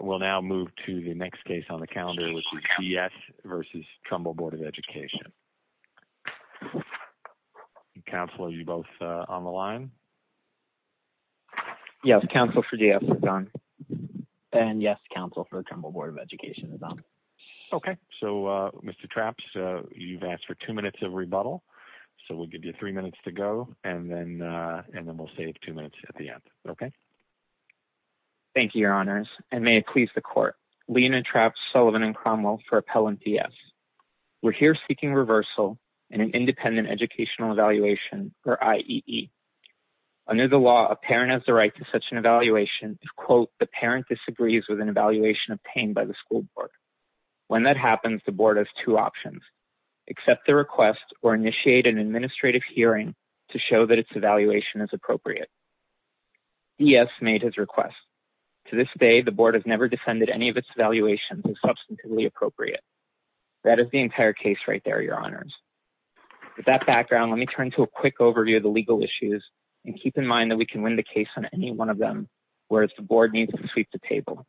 We'll now move to the next case on the calendar, which is D.S. v. Trumbull Board of Education. Counsel, are you both on the line? Yes, counsel for D.S. is on. And yes, counsel for Trumbull Board of Education is on. Okay, so Mr. Trapps, you've asked for two minutes of rebuttal, so we'll give you three minutes to go, and then we'll save two minutes at the end, okay? Thank you, your honors, and may it please the court. Lena Trapps, Sullivan, and Cromwell for appellant D.S. We're here seeking reversal in an independent educational evaluation, or IEE. Under the law, a parent has the right to such an evaluation if, quote, the parent disagrees with an evaluation obtained by the school board. When that happens, the board has two options, accept the request or initiate an administrative hearing to show that its D.S. made his request. To this day, the board has never defended any of its evaluations as substantively appropriate. That is the entire case right there, your honors. With that background, let me turn to a quick overview of the legal issues, and keep in mind that we can win the case on any one of them, whereas the board needs to sweep the table.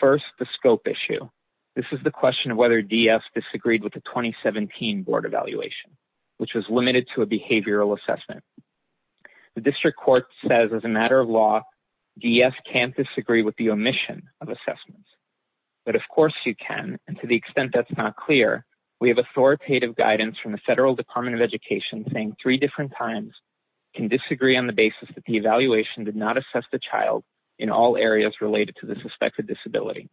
First, the scope issue. This is the question of whether D.S. disagreed with the 2017 board evaluation, which was limited to behavioral assessment. The district court says as a matter of law, D.S. can't disagree with the omission of assessments. But of course you can, and to the extent that's not clear, we have authoritative guidance from the federal department of education saying three different times can disagree on the basis that the evaluation did not assess the child in all areas related to the suspected disability.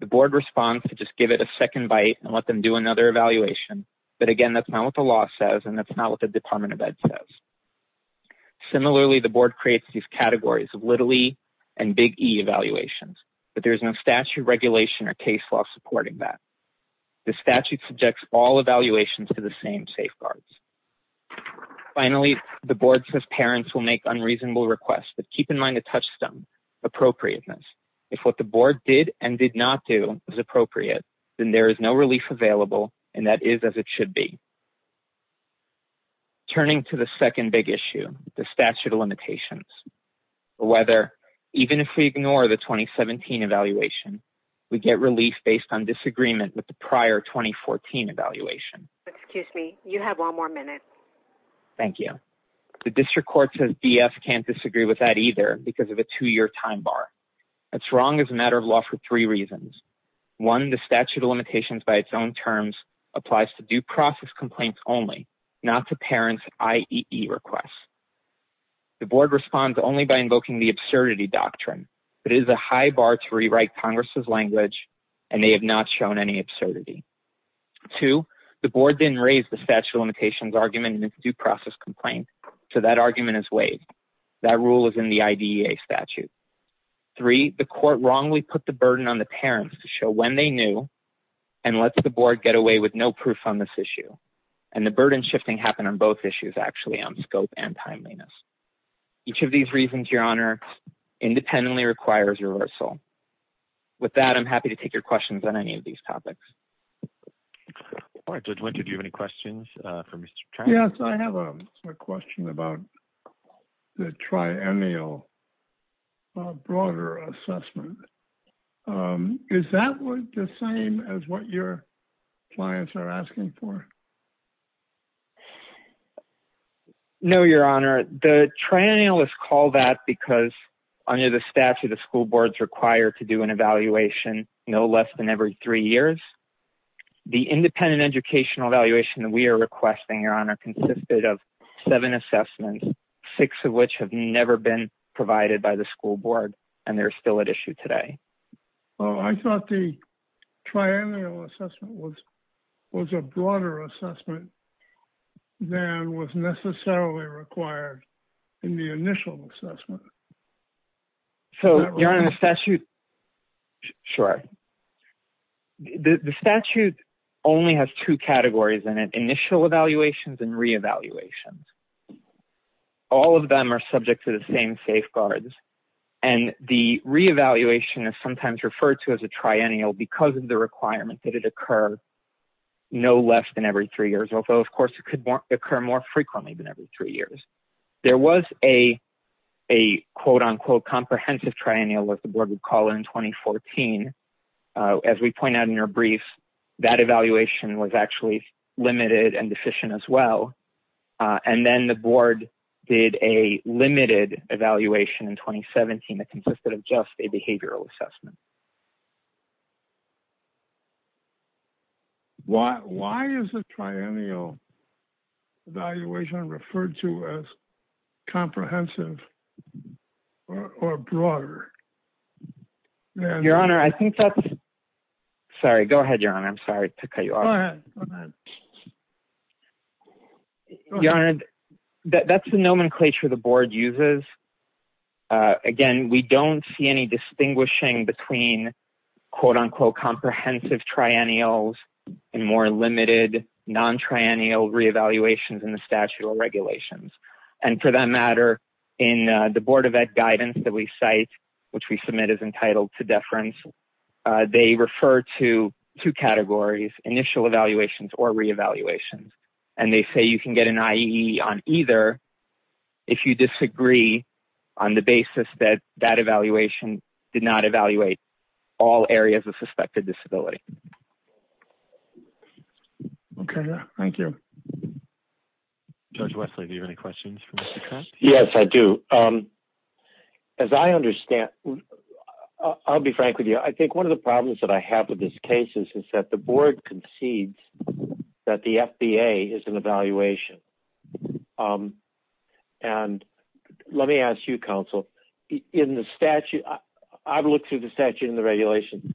The board responds to just give it a second bite and let them do another evaluation, but again that's not what the law says and that's not what the department of ed says. Similarly, the board creates these categories of little E and big E evaluations, but there's no statute regulation or case law supporting that. The statute subjects all evaluations to the same safeguards. Finally, the board says parents will make unreasonable requests, but keep in mind the touchstone appropriateness. If what the board did and did not do is appropriate, then there is no relief available and that is as it should be. Turning to the second big issue, the statute of limitations. Whether, even if we ignore the 2017 evaluation, we get relief based on disagreement with the prior 2014 evaluation. Excuse me, you have one more minute. Thank you. The district court says D.S. can't disagree with that either because of a two-year time bar. That's wrong as a matter of law for three reasons. One, the statute of limitations by its own terms applies to due process complaints only, not to parents IEE requests. The board responds only by invoking the absurdity doctrine, but it is a high bar to rewrite congress's language and they have not shown any absurdity. Two, the board didn't raise the statute of limitations argument in its due process complaint, so that argument is waived. That rule is in the IDEA statute. Three, the court wrongly put the burden on the parents to show when they knew and let the board get away with no proof on this issue. And the burden shifting happened on both issues actually, on scope and timeliness. Each of these reasons, your honor, independently requires reversal. With that, I'm happy to take your questions on any of these topics. All right, Judge Wynter, do you have any questions for Mr. Travis? Yes, I have a question about the triennial broader assessment. Is that the same as what your clients are asking for? No, your honor. The triennialists call that because under the statute, the school boards require to do an evaluation no less than every three years. The independent educational evaluation that we are requesting, your honor, consisted of seven assessments, six of which have never been provided by the school board and they're still at issue today. I thought the triennial assessment was a broader assessment than was necessarily required in the initial assessment. So, your honor, the statute only has two categories in it, initial evaluations and re-evaluations. All of them are subject to the same safeguards and the re-evaluation is sometimes referred to as a triennial because of the requirement that it occur no less than every three years. Although, it could occur more frequently than every three years. There was a quote-unquote comprehensive triennial, as the board would call it, in 2014. As we point out in your brief, that evaluation was actually limited and deficient as well. And then the board did a limited evaluation in 2017 that consisted of just a behavioral assessment. Why is the triennial evaluation referred to as comprehensive or broader? Your honor, I think that's... Sorry, go ahead, your honor. I'm sorry to cut you off. Go ahead. Go ahead. Your honor, that's the nomenclature the board uses. Again, we don't see any distinguishing between quote-unquote comprehensive triennials and more limited non-triennial re-evaluations in the statute or regulations. And for that matter, in the board of guidance that we cite, which we submit as entitled to deference, they refer to two categories, initial evaluations or re-evaluations. And they say you can get an IEE on either if you disagree on the basis that that evaluation did not evaluate all areas of suspected disability. Okay. Thank you. Judge Wesley, do you have any questions? Yes, I do. As I understand, I'll be frank with you. I think one of the problems that I have with this case is that the board concedes that the FBA is an evaluation. And let me ask you, in the statute, I've looked through the statute and the regulation.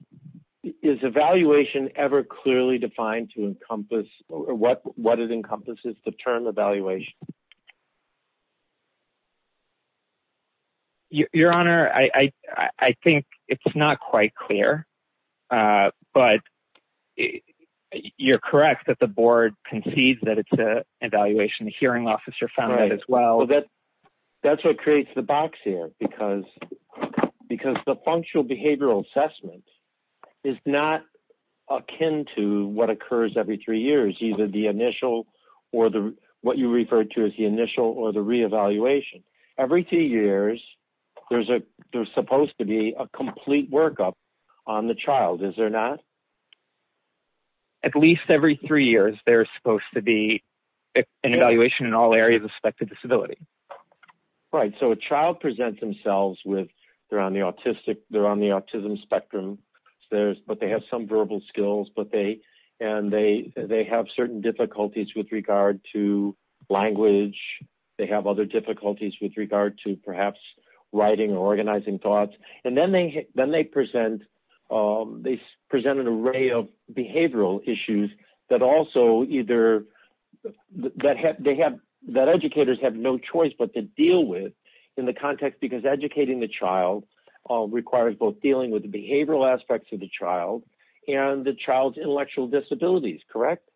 Is evaluation ever clearly defined to encompass what it encompasses, the term evaluation? Your honor, I think it's not quite clear. But you're correct that the board concedes that it's because the functional behavioral assessment is not akin to what occurs every three years, either the initial or what you referred to as the initial or the re-evaluation. Every two years, there's supposed to be a complete workup on the child. Is there not? At least every three years, there's supposed to be an evaluation in all areas of suspected disability. Right. So, a child presents themselves with, they're on the autism spectrum, but they have some verbal skills. And they have certain difficulties with regard to language. They have other difficulties with regard to perhaps writing or organizing thoughts. And then they present an array of behavioral issues that also either, that educators have no choice but to deal with in the context because educating the child requires both dealing with the behavioral aspects of the child and the child's intellectual disabilities. Correct?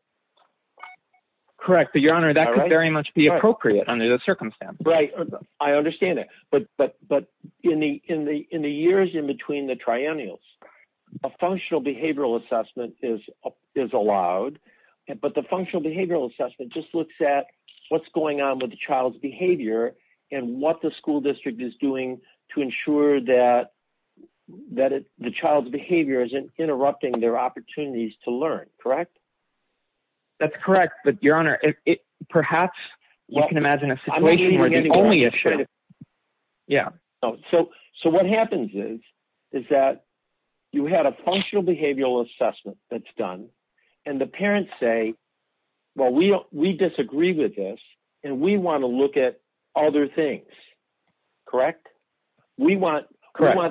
Correct. But your honor, that could very much be appropriate under the circumstance. Right. I understand that. But in the years in between the triennials, a functional behavioral assessment is allowed. But the functional behavioral assessment just looks at what's going on with the child's behavior and what the school district is doing to ensure that the child's behavior isn't interrupting their opportunities to learn. Correct? That's correct. But your honor, perhaps you can imagine a situation where the only issue. Yeah. So, what happens is that you had a functional behavioral assessment that's done and the parents say, well, we disagree with this and we want to look at other things. Correct? We want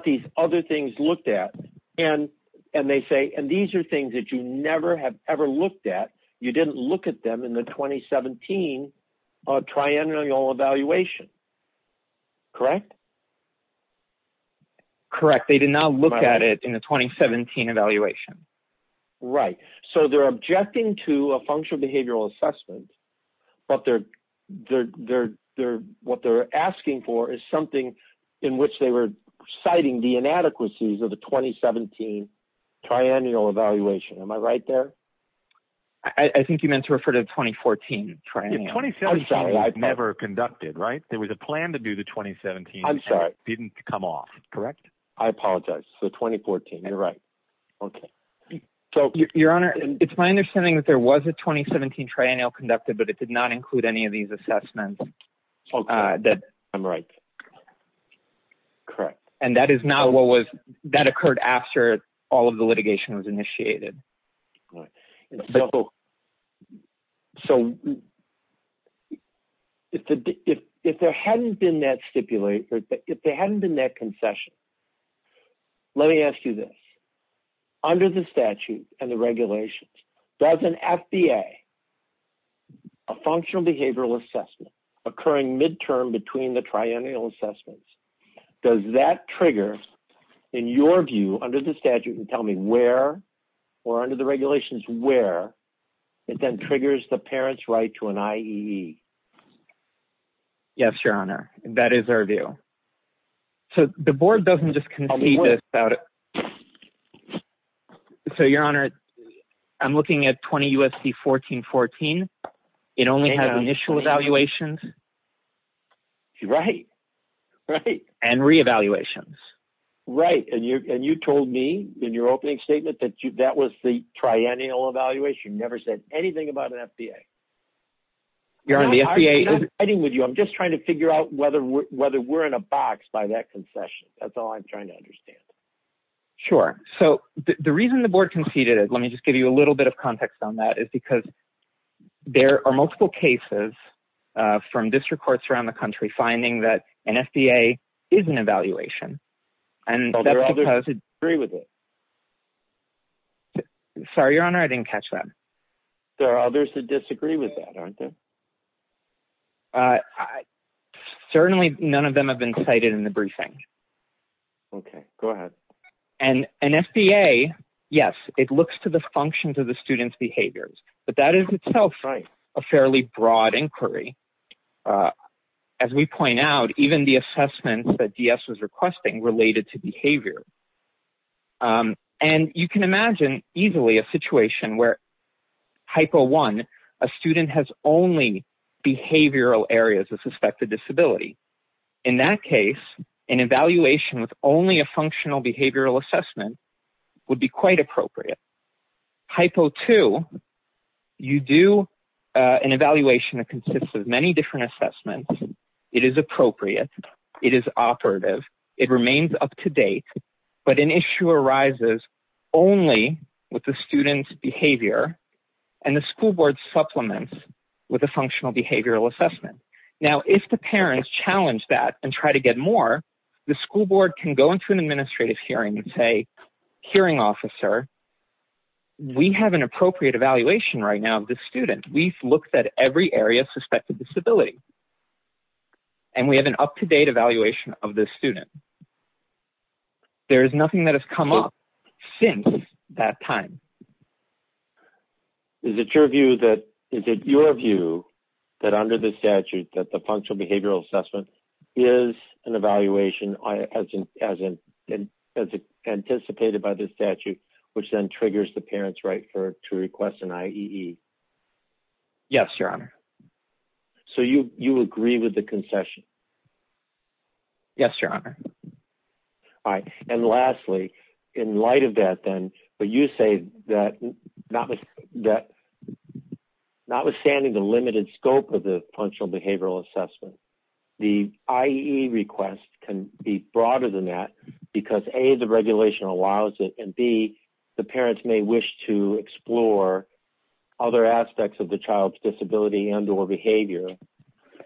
these other things looked at. And they say, and these are things that you never have ever looked at. You didn't look at them in the 2017 triennial evaluation. Correct? Correct. They did not look at it in the 2017 evaluation. Right. So, they're objecting to a functional behavioral assessment, but what they're asking for is something in which they were citing the inadequacies of the 2017 triennial evaluation. Am I right there? I think you meant to refer to the 2014 triennial. 2017 was never conducted, right? There was a plan to do the 2017. I'm sorry. Didn't come off. Correct? I apologize. So, 2014. You're right. Okay. So, your honor, it's my understanding that there was a 2017 triennial conducted, but it did not include any of these assessments. I'm right. Correct. And that is not what was, that occurred after all of the litigation was initiated. Right. So, if there hadn't been that stipulation, if there hadn't been that concession, let me ask you this. Under the statute and the regulations, does an FBA, a functional behavioral assessment occurring midterm between the triennial assessments, does that trigger, in your view, under the statute, and tell me where, or under the regulations, where it then triggers the parent's right to an IEE? Yes, your honor. That is our view. So, the board doesn't just concede this. So, your honor, I'm looking at 20 U.S.C. 1414. It only has initial evaluations. Right. Right. And re-evaluations. Right. And you told me in your opening statement that that was the triennial evaluation. You never said anything about an FBA. Your honor, the FBA is- I'm not fighting with you. I'm just trying to figure out whether we're in a box by that concession. That's all I'm trying to understand. Sure. So, the reason the board conceded it, let me just give you a little bit of context on that, is because there are multiple cases from district courts around the country finding that an FBA is an evaluation. And that's because- So, there are others who disagree with it? Sorry, your honor. I didn't catch that. There are others who disagree with that, aren't there? Certainly, none of them have been cited in the briefing. Okay. Go ahead. And an FBA, yes, it looks to the functions of the student's behaviors. But that is itself a fairly broad inquiry. As we point out, even the assessment that DS was requesting related to behavior. And you can imagine easily a situation where, hypo one, a student has only behavioral areas of suspected disability. In that case, an evaluation with only a functional behavioral assessment would be quite appropriate. Hypo two, you do an evaluation that consists of many different assessments. It is appropriate. It is operative. It remains up to date. But an issue arises only with the student's behavior and the school board supplements with a functional behavioral assessment. Now, if the parents challenge that and try to get more, the school board can go into an We have an appropriate evaluation right now of the student. We've looked at every area of suspected disability. And we have an up-to-date evaluation of the student. There is nothing that has come up since that time. Is it your view that under the statute that the functional behavioral assessment is an evaluation as anticipated by the statute, which then triggers the parent's right to request an IEE? Yes, your honor. So you agree with the concession? Yes, your honor. All right. And lastly, in light of that, then, but you say that notwithstanding the limited scope of the functional behavioral assessment, the IEE request can be broader than that because, A, the regulation allows it and B, the parents may wish to explore other aspects of the child's disability and or behavior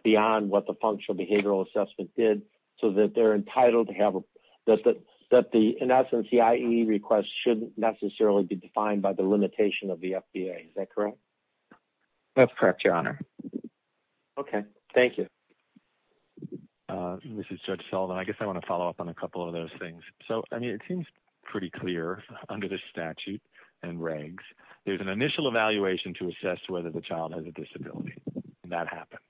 beyond what the functional behavioral assessment did so that they're entitled to have, that the, in essence, the IEE request shouldn't necessarily be defined by the limitation of the FBA. Is that correct? That's correct, your honor. Okay. Thank you. This is Judge Sullivan. I guess I want to follow up on a couple of those things. So, I mean, it seems pretty clear under the statute and regs, there's an initial evaluation to assess whether the child has a disability and that happened.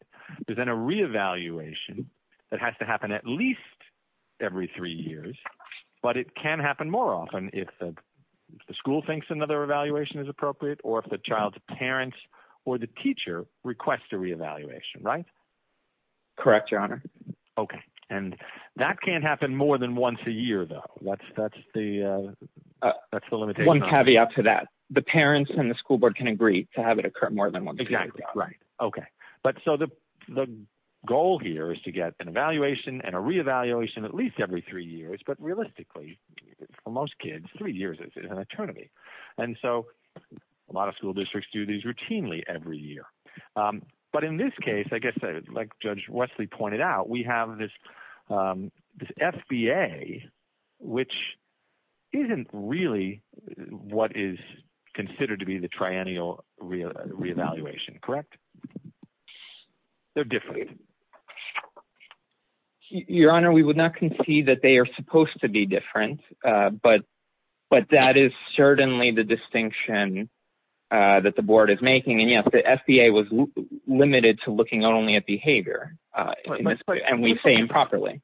But then a reevaluation that has to happen at least every three years, but it can happen more often if the school thinks another evaluation is appropriate or if the child's parents or the teacher requests a reevaluation, right? Correct, your honor. Okay. And that can't happen more than once a year, though. That's the limitation. One caveat to that. The parents and the school board can agree to have it occur more than once a year. Exactly. Right. Okay. But so the goal here is to get an evaluation and a reevaluation at least every three years, but realistically, for most kids, three years is an eternity. And so a lot of school districts do these routinely every year. But in this case, I guess, like Judge Wesley pointed out, we have this FBA, which isn't really what is considered to be the triennial reevaluation, correct? They're different. Your honor, we would not concede that they are supposed to be different. But that is certainly the distinction that the board is making. And yes, the FBA was limited to looking only at behavior and we say improperly.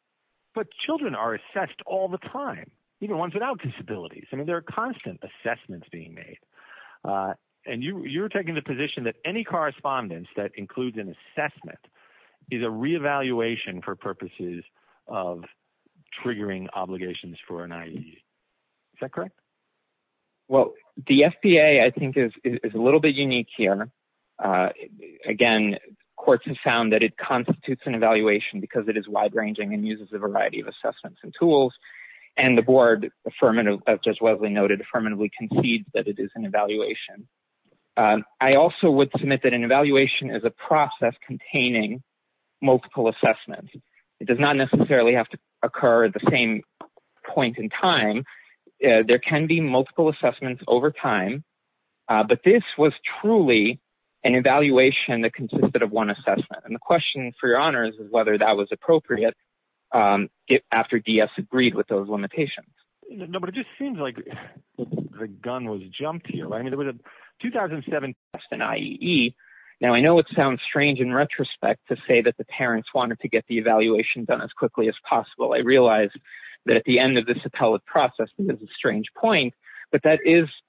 But children are assessed all the time, even ones without disabilities. I mean, there are constant assessments being made. And you're taking the position that any is a reevaluation for purposes of triggering obligations for an IED. Is that correct? Well, the FBA, I think, is a little bit unique here. Again, courts have found that it constitutes an evaluation because it is wide ranging and uses a variety of assessments and tools. And the board, as Judge Wesley noted, affirmatively concedes that it is an evaluation. And I also would submit that an evaluation is a process containing multiple assessments. It does not necessarily have to occur at the same point in time. There can be multiple assessments over time. But this was truly an evaluation that consisted of one assessment. And the question for your honors is whether that was appropriate after DS agreed with those 2007 tests in IEE. Now, I know it sounds strange in retrospect to say that the parents wanted to get the evaluation done as quickly as possible. I realize that at the end of this appellate process, this is a strange point, but that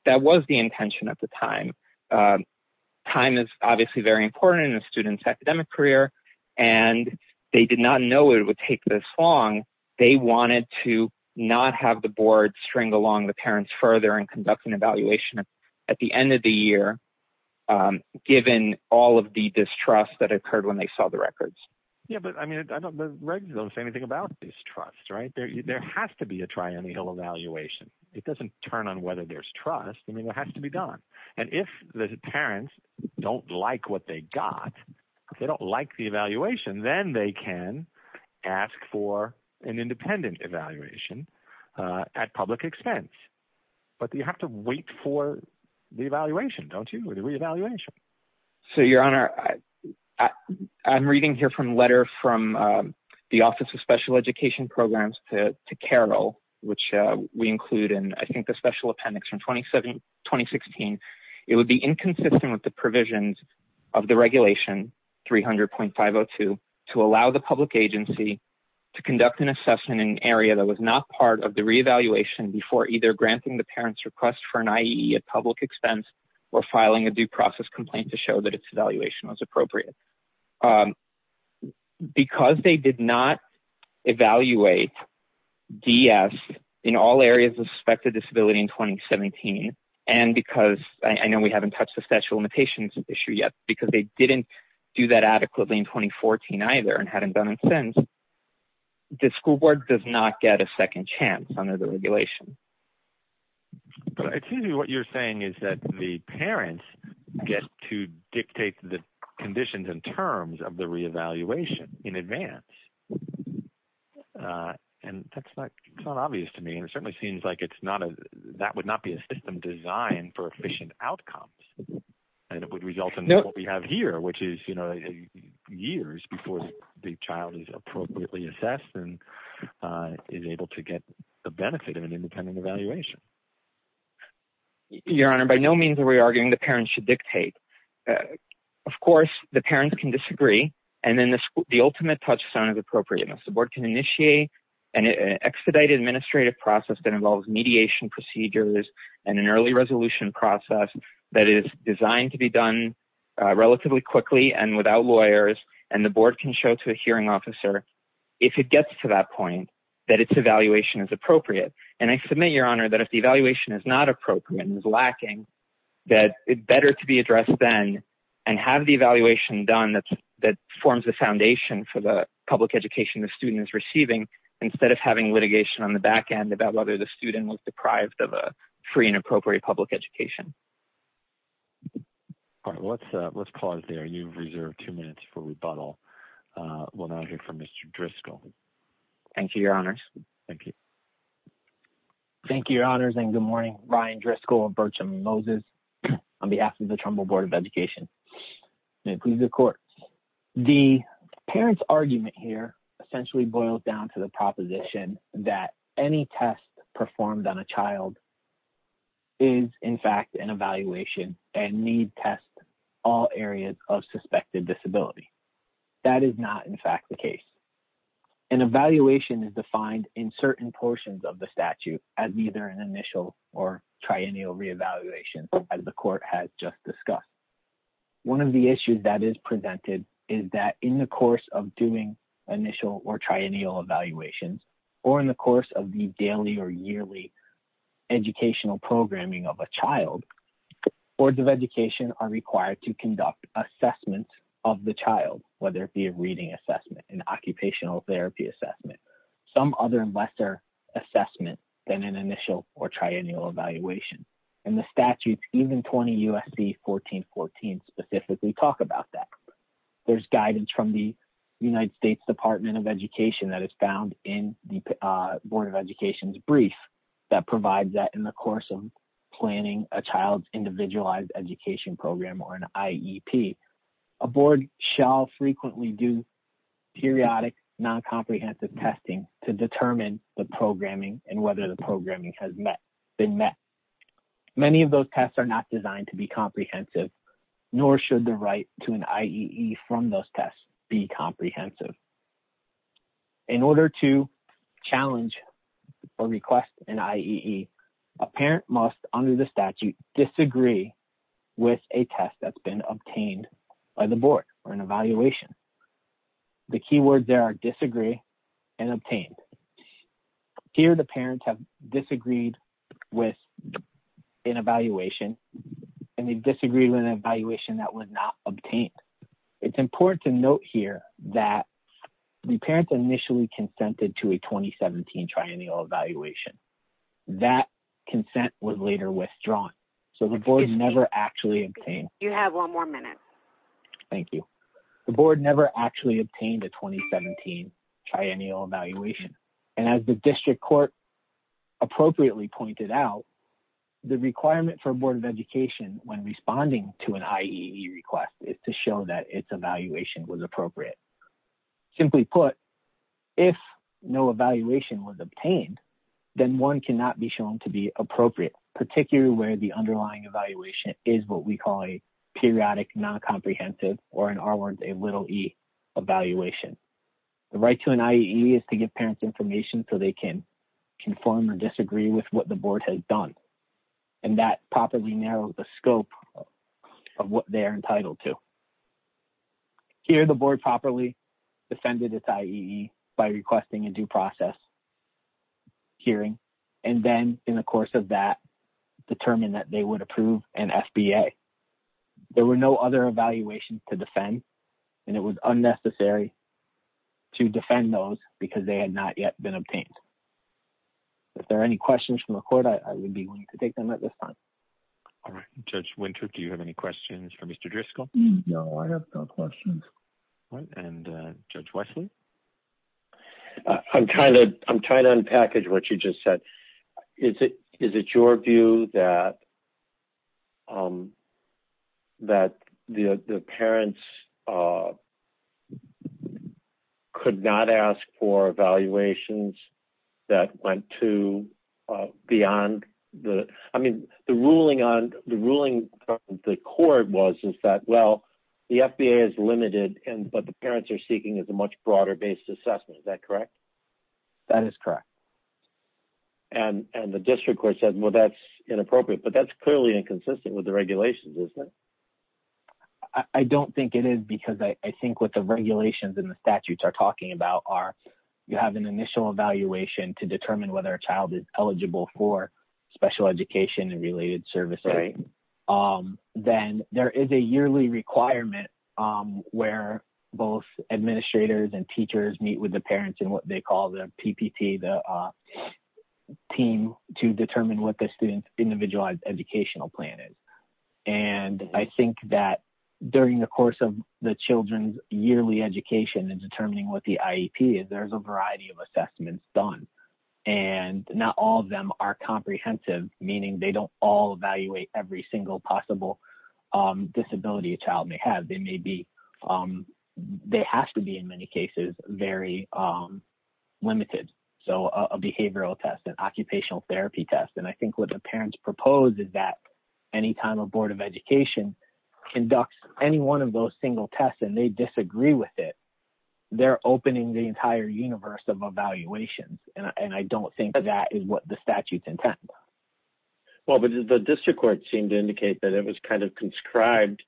was the intention at the time. Time is obviously very important in a student's academic career. And they did not know it would take this long. They wanted to not have the board string along the parents further and conduct an evaluation. At the end of the year, given all of the distrust that occurred when they saw the records. Yeah, but I mean, I don't know anything about distrust, right? There has to be a triennial evaluation. It doesn't turn on whether there's trust. I mean, it has to be done. And if the parents don't like what they got, if they don't like the evaluation, then they can ask for an independent evaluation at public expense. But you have to wait for the evaluation, don't you? The re-evaluation. So your honor, I'm reading here from a letter from the Office of Special Education Programs to Carol, which we include in, I think, the special appendix from 2016. It would be inconsistent with the provisions of the regulation 300.502 to allow the public agency to conduct an assessment in an area that was not part of the re-evaluation before either granting the parent's request for an IEE at public expense or filing a due process complaint to show that its evaluation was appropriate. Because they did not evaluate DS in all areas of suspected disability in 2017, and because I know we haven't touched the statute of limitations issue yet, because they didn't do that adequately in 2014 either and hadn't done it since, the school board does not get a second chance under the regulation. It seems to me what you're saying is that the parents get to dictate the conditions and terms of the re-evaluation in advance. And that's not obvious to me. And it certainly seems like it's that would not be a system designed for efficient outcomes. And it would result in what we have here, which is, you know, years before the child is appropriately assessed and is able to get the benefit of an independent evaluation. Your Honor, by no means are we arguing the parents should dictate. Of course, the parents can disagree. And then the ultimate touchstone is appropriateness. The board can show to a hearing officer, if it gets to that point, that its evaluation is appropriate. And I submit, Your Honor, that if the evaluation is not appropriate and is lacking, that it better to be addressed then and have the evaluation done that forms the foundation for the public education the student is receiving, instead of having litigation on the back end about whether the student was deprived of a free and appropriate public education. All right. Let's pause there. You've reserved two minutes for rebuttal. We'll now hear from Mr. Driscoll. Thank you, Your Honors. Thank you. Thank you, Your Honors. And good morning, Ryan Driscoll and Bertram Moses on behalf of the Trumbull Board of Education. May it please the a child is, in fact, an evaluation and need test all areas of suspected disability. That is not, in fact, the case. An evaluation is defined in certain portions of the statute as either an initial or triennial reevaluation, as the court has just discussed. One of the issues that is presented is that in the course of doing initial or triennial evaluations or in the course of the daily or yearly educational programming of a child, boards of education are required to conduct assessment of the child, whether it be a reading assessment, an occupational therapy assessment, some other lesser assessment than an initial or triennial evaluation. In the statute, even 20 U.S.C. 1414 specifically talk about that. There's guidance from the Board of Education's brief that provides that in the course of planning a child's individualized education program or an IEP, a board shall frequently do periodic non-comprehensive testing to determine the programming and whether the programming has been met. Many of those tests are not designed to be comprehensive, nor should the right to an IEE from those tests be comprehensive. In order to challenge or request an IEE, a parent must, under the statute, disagree with a test that's been obtained by the board or an evaluation. The key words there are disagree and obtained. Here, the parents have disagreed with an evaluation and they disagreed with an evaluation. The parents initially consented to a 2017 triennial evaluation. That consent was later withdrawn, so the board never actually obtained... You have one more minute. Thank you. The board never actually obtained a 2017 triennial evaluation, and as the district court appropriately pointed out, the requirement for a board of education when responding to an evaluation was appropriate. Simply put, if no evaluation was obtained, then one cannot be shown to be appropriate, particularly where the underlying evaluation is what we call a periodic non-comprehensive, or in our words, a little e evaluation. The right to an IEE is to give parents information so they can conform or disagree with what the board has done, and that properly narrows the scope of what they're entitled to. Here, the board properly defended its IEE by requesting a due process hearing, and then in the course of that, determined that they would approve an FBA. There were no other evaluations to defend, and it was unnecessary to defend those because they had not yet been obtained. If there are any questions from the court, I would be willing to take them at this time. All right, Judge Winter, do you have any questions for Mr. Driscoll? No, I have no questions. All right, and Judge Wesley? I'm trying to unpackage what you just said. Is it your view that the parents could not ask for evaluations that went to beyond the, I mean, the ruling on, the ruling the court was is that, well, the FBA is limited, but the parents are seeking is a much broader based assessment. Is that correct? That is correct. And the district court says, well, that's appropriate, but that's clearly inconsistent with the regulations, isn't it? I don't think it is because I think what the regulations and the statutes are talking about are you have an initial evaluation to determine whether a child is eligible for special education and related services. Then there is a yearly requirement where both administrators and teachers meet with parents in what they call the PPP, the team to determine what the student's individualized educational plan is. And I think that during the course of the children's yearly education and determining what the IEP is, there's a variety of assessments done. And not all of them are comprehensive, meaning they don't all evaluate every single possible disability a child may have. They may be, they have to be in many cases, very limited. So a behavioral test, an occupational therapy test. And I think what the parents propose is that any time a board of education conducts any one of those single tests and they disagree with it, they're opening the entire universe of evaluations. And I don't think that is what the statutes intend. Well, but the district court seemed to indicate that it was kind of conscribed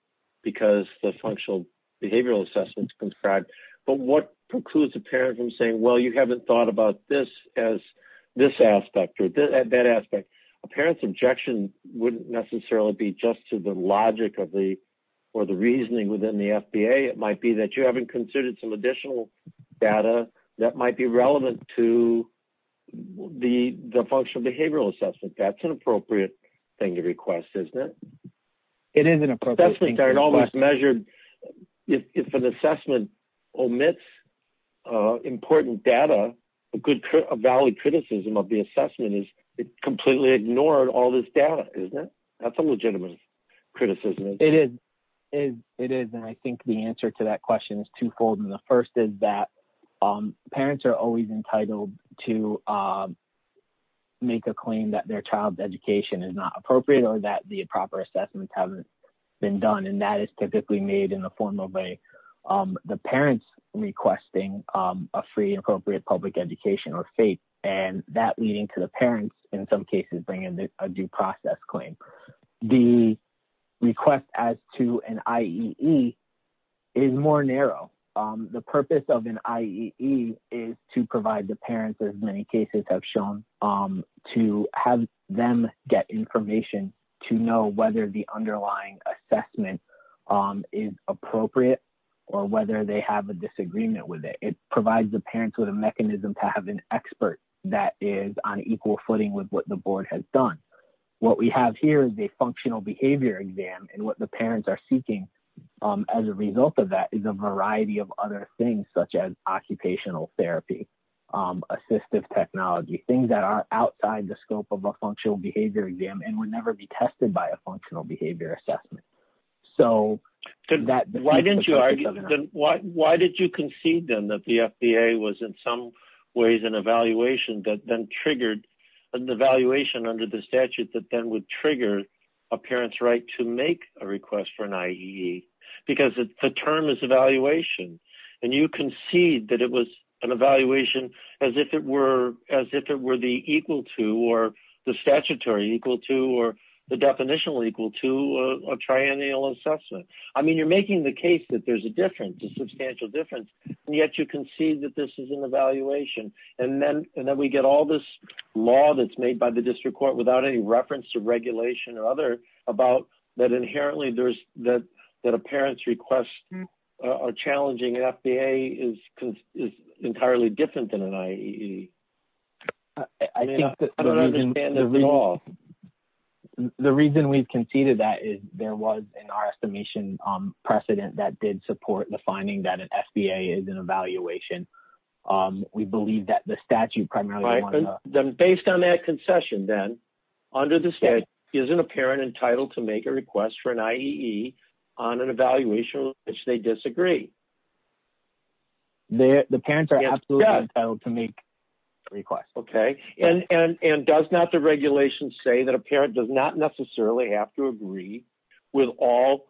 because the functional behavioral assessments conscribed. But what precludes a parent from saying, well, you haven't thought about this as this aspect or that aspect. A parent's objection wouldn't necessarily be just to the logic of the, or the reasoning within the FBA. It might be that you haven't considered some additional data that might be relevant to the functional behavioral assessment. That's an appropriate thing to request, isn't it? It is an appropriate thing. It's almost measured. If an assessment omits important data, a good, a valid criticism of the assessment is it completely ignored all this data, isn't it? That's a legitimate criticism. It is. It is. And I think the answer to that question is twofold. And the first is that parents are always entitled to make a claim that their child's education is not appropriate or that the proper assessments haven't been done. And that is typically made in the formal way. The parents requesting a free and appropriate public education or FAPE, and that leading to the parents in some cases, bringing a due process claim. The request as to an IEE is more narrow. The purpose of an IEE is to provide the parents, as many cases have shown, to have them get information to know whether the underlying assessment is appropriate or whether they have a disagreement with it. It provides the parents with a mechanism to have an expert that is on equal footing with what the board has done. What we have here is a functional behavior exam. And what the parents are seeking as a result of that is a variety of other things, such as occupational therapy, assistive technology, things that are outside the scope of a functional behavior exam and would never be tested by a functional behavior assessment. So that... Why did you concede then that the FDA was in some ways an evaluation that then triggered an evaluation under the statute that then would because the term is evaluation. And you concede that it was an evaluation as if it were the equal to or the statutory equal to or the definition equal to a triennial assessment. I mean, you're making the case that there's a difference, a substantial difference, and yet you concede that this is an evaluation. And then we get all this law that's made by the district court without any reference to regulation or other about that inherently there's that a parent's request or challenging an FDA is entirely different than an IAE. I don't understand that at all. The reason we've conceded that is there was in our estimation precedent that did support the finding that an FDA is an evaluation. We believe that the statute primarily... Based on that concession then, under the state, isn't a parent entitled to make a request for an IAE on an evaluation which they disagree? The parents are absolutely entitled to make requests. Okay. And does not the regulation say that a parent does not necessarily have to agree with all...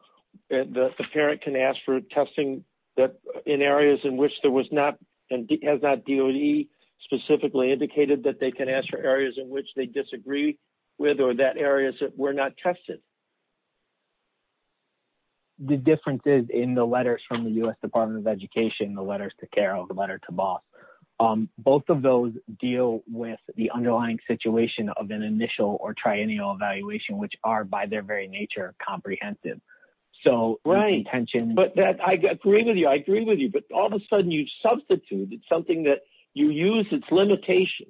The parent can ask for testing in areas in which there was not and has not DOE specifically indicated that they can ask for areas in which they disagree with or that areas that were not tested. The difference is in the letters from the U.S. Department of Education, the letters to Carroll, the letter to Boss, both of those deal with the underlying situation of an initial or triennial evaluation, which are by their very nature comprehensive. So intention... Right. But I agree with you. I agree with you. But all of a sudden you substitute something that you use its limitation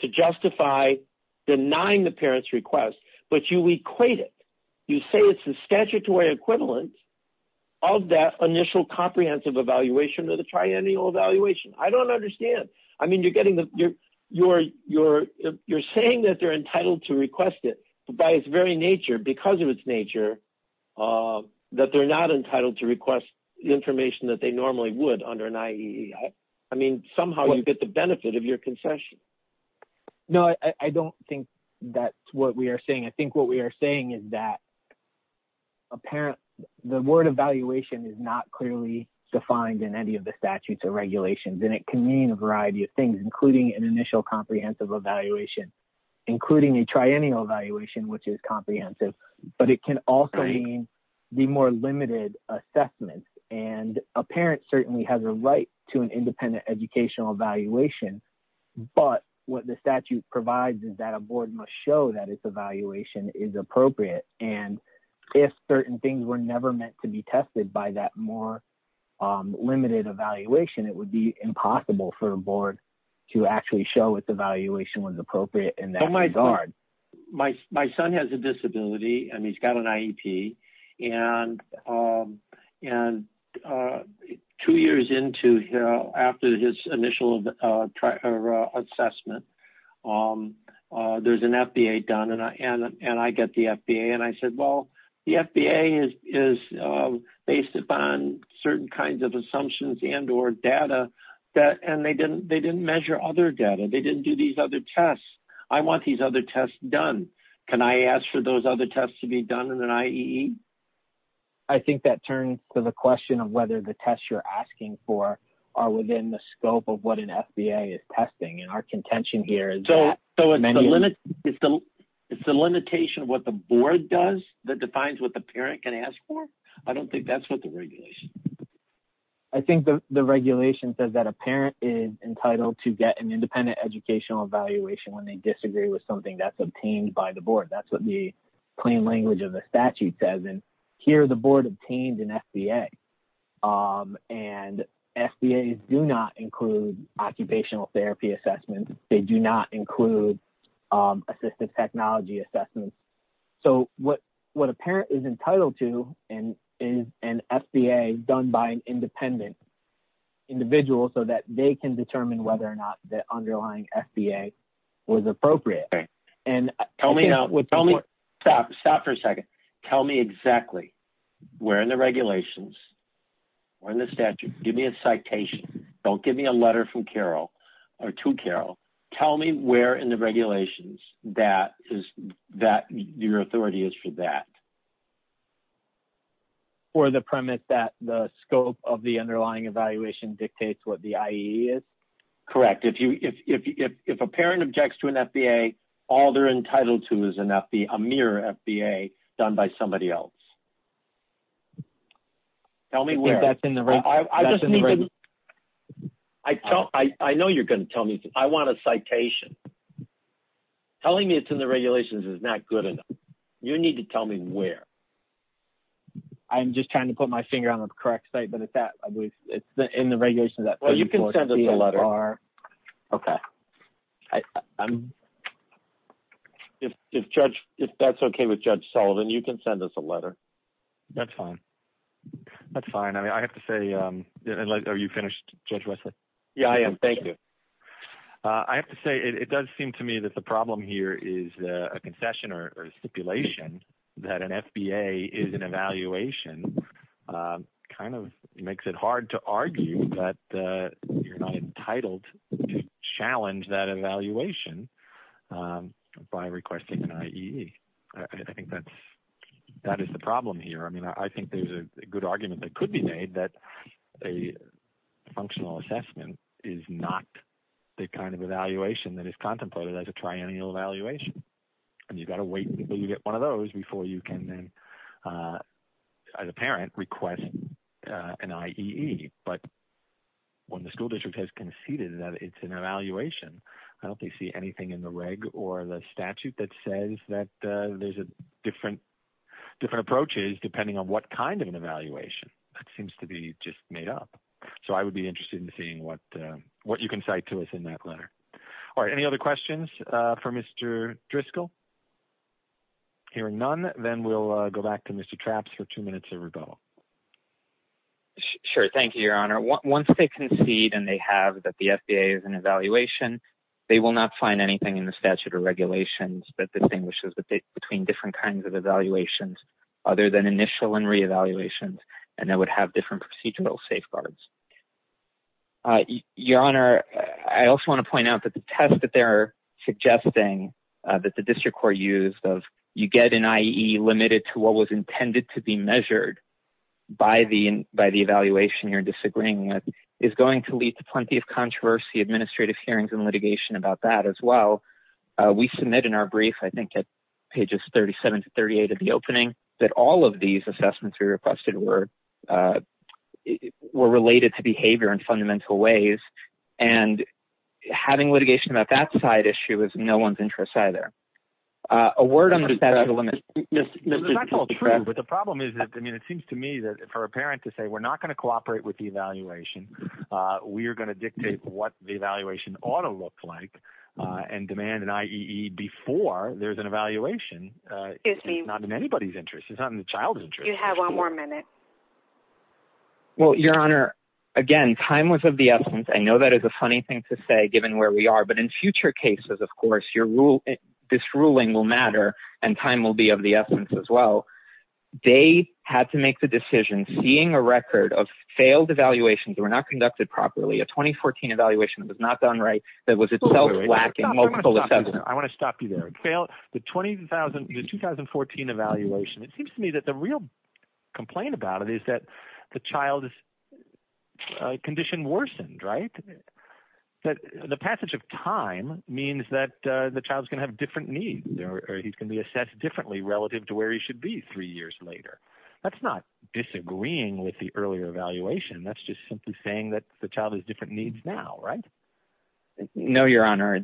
to justify denying the parent's request, but you equate it. You say it's the statutory equivalent of that initial comprehensive evaluation or the triennial evaluation. I don't understand. I mean, you're getting the... You're saying that they're entitled to request it by its very nature, because of its nature, that they're not entitled to request information that they normally would under an IAEA. I mean, somehow you get the benefit of your concession. No, I don't think that's what we are saying. I think what we are saying is that a parent... The word evaluation is not clearly defined in any of the statutes or regulations, and it can mean a variety of things, including an initial comprehensive evaluation, including a triennial evaluation, which is comprehensive, but it can also mean the more assessments. And a parent certainly has a right to an independent educational evaluation, but what the statute provides is that a board must show that its evaluation is appropriate. And if certain things were never meant to be tested by that more limited evaluation, it would be impossible for a board to actually show its evaluation was appropriate in that regard. My son has a disability, and he's got an IEP. And two years after his initial assessment, there's an FBA done, and I get the FBA. And I said, well, the FBA is based upon certain kinds of assumptions and or data, and they didn't measure other data. They didn't do these other tests done. Can I ask for those other tests to be done in an IEE? I think that turns to the question of whether the tests you're asking for are within the scope of what an FBA is testing, and our contention here is that many... So it's the limitation of what the board does that defines what the parent can ask for? I don't think that's what the regulation... I think the regulation says that a parent is entitled to get an independent educational evaluation when they disagree with something that's obtained by the board. That's what the plain language of the statute says. And here, the board obtained an FBA, and FBAs do not include occupational therapy assessments. They do not include assistive technology assessments. So what a parent is entitled to is an FBA done by an independent individual so that they can determine whether or not the underlying FBA was appropriate. Okay. Tell me now... Stop for a second. Tell me exactly where in the regulations, where in the statute... Give me a citation. Don't give me a letter from Carol or to Carol. Tell me where in the regulations that your authority is for that. For the premise that the scope of the underlying evaluation dictates what the IE is? Correct. If a parent objects to an FBA, all they're entitled to is a mirror FBA done by somebody else. Tell me where. I think that's in the regulations. I just need to... I know you're going to tell me. I want a citation. Telling me it's in the regulations is not good enough. You need to tell me where. I'm just trying to put my finger on the correct site, but it's that. I believe it's in the regulations that... Well, you can send us a letter. Okay. If that's okay with Judge Sullivan, you can send us a letter. That's fine. That's fine. I mean, I have to say... Are you finished, Judge Wesley? Yeah, I am. Thank you. I have to say, it does seem to me that the problem here is a concession or a stipulation that an FBA is an evaluation kind of makes it hard to argue that you're not entitled to challenge that evaluation by requesting an IE. I think that is the problem here. I mean, I think there's a good argument that could be made that a functional assessment is not the kind of evaluation that is contemplated as a triennial evaluation. You've got to wait until you get one of those before you can then, as a parent, request an IEE. When the school district has conceded that it's an evaluation, I don't think I see anything in the reg or the statute that says that there's different approaches depending on what kind of an evaluation. That seems to be just made up. I would be interested in seeing what you can cite to us in that letter. All right. Any other questions for Mr. Driscoll? Hearing none, then we'll go back to Mr. Trapps for two minutes of rebuttal. Sure. Thank you, Your Honor. Once they concede and they have that the FBA is an evaluation, they will not find anything in the statute or regulations that distinguishes between different kinds of evaluations other than initial and reevaluations, and that would have different procedural safeguards. Your Honor, I also want to point out that the test that they're suggesting that the district court used of you get an IEE limited to what was intended to be measured by the evaluation you're disagreeing with is going to lead to plenty of controversy, administrative hearings, and litigation about that as well. We submit in our brief, I think, at pages 37 to 38 of the opening that all of these assessments we requested were related to behavior in fundamental ways, and having litigation about that side issue is no one's interest either. A word on that. It's not all true, but the problem is that, I mean, it seems to me that for a parent to say we're not going to cooperate with the evaluation, we are going to dictate what the evaluation ought to look like and demand an IEE before there's an evaluation. It's not in anybody's interest. It's not in the child's interest. You have one more minute. Well, Your Honor, again, time was of the essence. I know that is a funny thing to say given where we are, but in future cases, of course, this ruling will matter and time will be of the essence as well. They had to make the decision seeing a record of failed evaluations that were not conducted properly, a 2014 evaluation that was not done right, that was itself lacking multiple I want to stop you there. The 2014 evaluation, it seems to me that the real complaint about it is that the child's condition worsened, right? The passage of time means that the child's going to have different needs or he can be assessed differently relative to where he should be three years later. That's not disagreeing with the earlier evaluation. That's just simply saying that the child has different needs now, right? No, Your Honor. In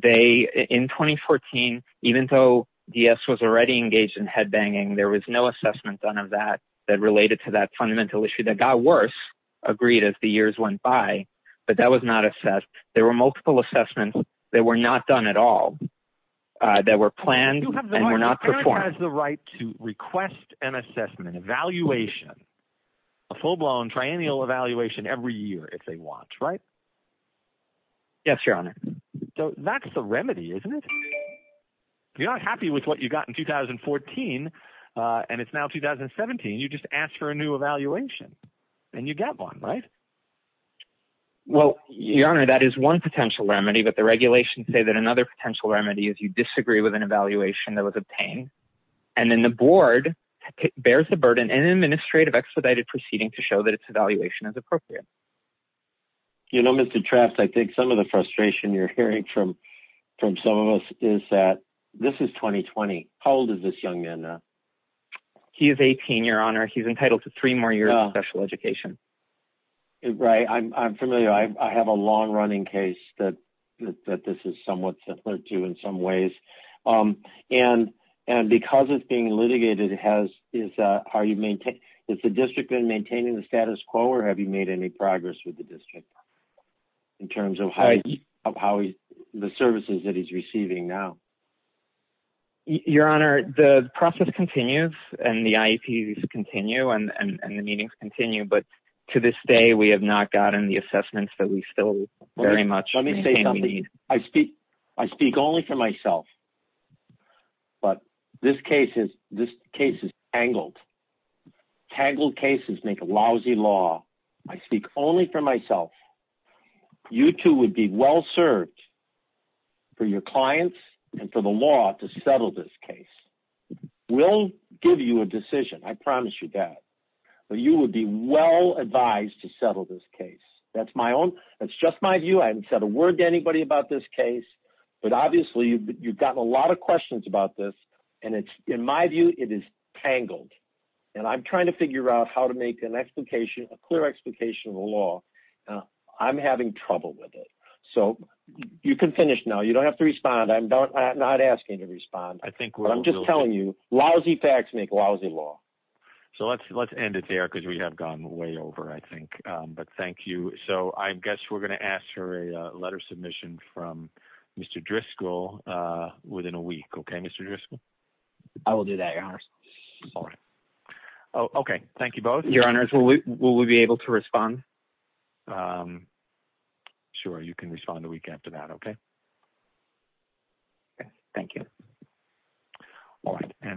2014, even though DS was already engaged in headbanging, there was no assessment done of that that related to that fundamental issue that got worse agreed as the years went by, but that was not assessed. There were multiple assessments that were not done at all that were planned and were not performed. The parent has the right to request an assessment evaluation, a full-blown triennial evaluation every year if they want, right? Yes, Your Honor. So that's the remedy, isn't it? You're not happy with what you got in 2014 and it's now 2017. You just ask for a new evaluation and you get one, right? Well, Your Honor, that is one potential remedy, but the regulations say that another potential remedy is you disagree with an evaluation that was obtained and then the board bears the burden and administrative expedited proceeding to show that its evaluation is appropriate. You know, Mr. Traft, I think some of the frustration you're hearing from from some of us is that this is 2020. How old is this young man now? He is 18, Your Honor. He's entitled to three more years of special education. Right. I'm familiar. I have a long-running case that this is somewhat similar to in some ways and because it's being litigated, it has already maintained. Has the district been maintaining the status quo or have you made any progress with the district in terms of the services that he's receiving now? Your Honor, the process continues and the IEPs continue and the meetings continue, but to this day we have not gotten the assessments that we still very much need. Let me say something. I speak only for myself, but this case is tangled. Tangled cases make a lousy law. I speak only for myself. You too would be well served for your clients and for the law to settle this case. We'll give you a decision. I promise you that. But you would be well advised to settle this case. That's just my view. I haven't said a word to anybody about this case, but obviously you've gotten a lot of questions about this and in my view it is tangled. I'm trying to figure out how to make a clear explication of the law. I'm having trouble with it. You can finish now. You don't have to respond. I'm not asking you to respond. I'm just telling you lousy facts make a lousy law. So let's end it there because we have gone way over, I think. But thank you. So I guess we're going to ask for a letter of submission from Mr. Driscoll within a week. Okay, Mr. Driscoll? I will do that, Your Honor. All right. Okay. Thank you both. Your Honor, will we be able to respond? Sure. You can respond a week after that. Okay. Okay. Thank you. All right.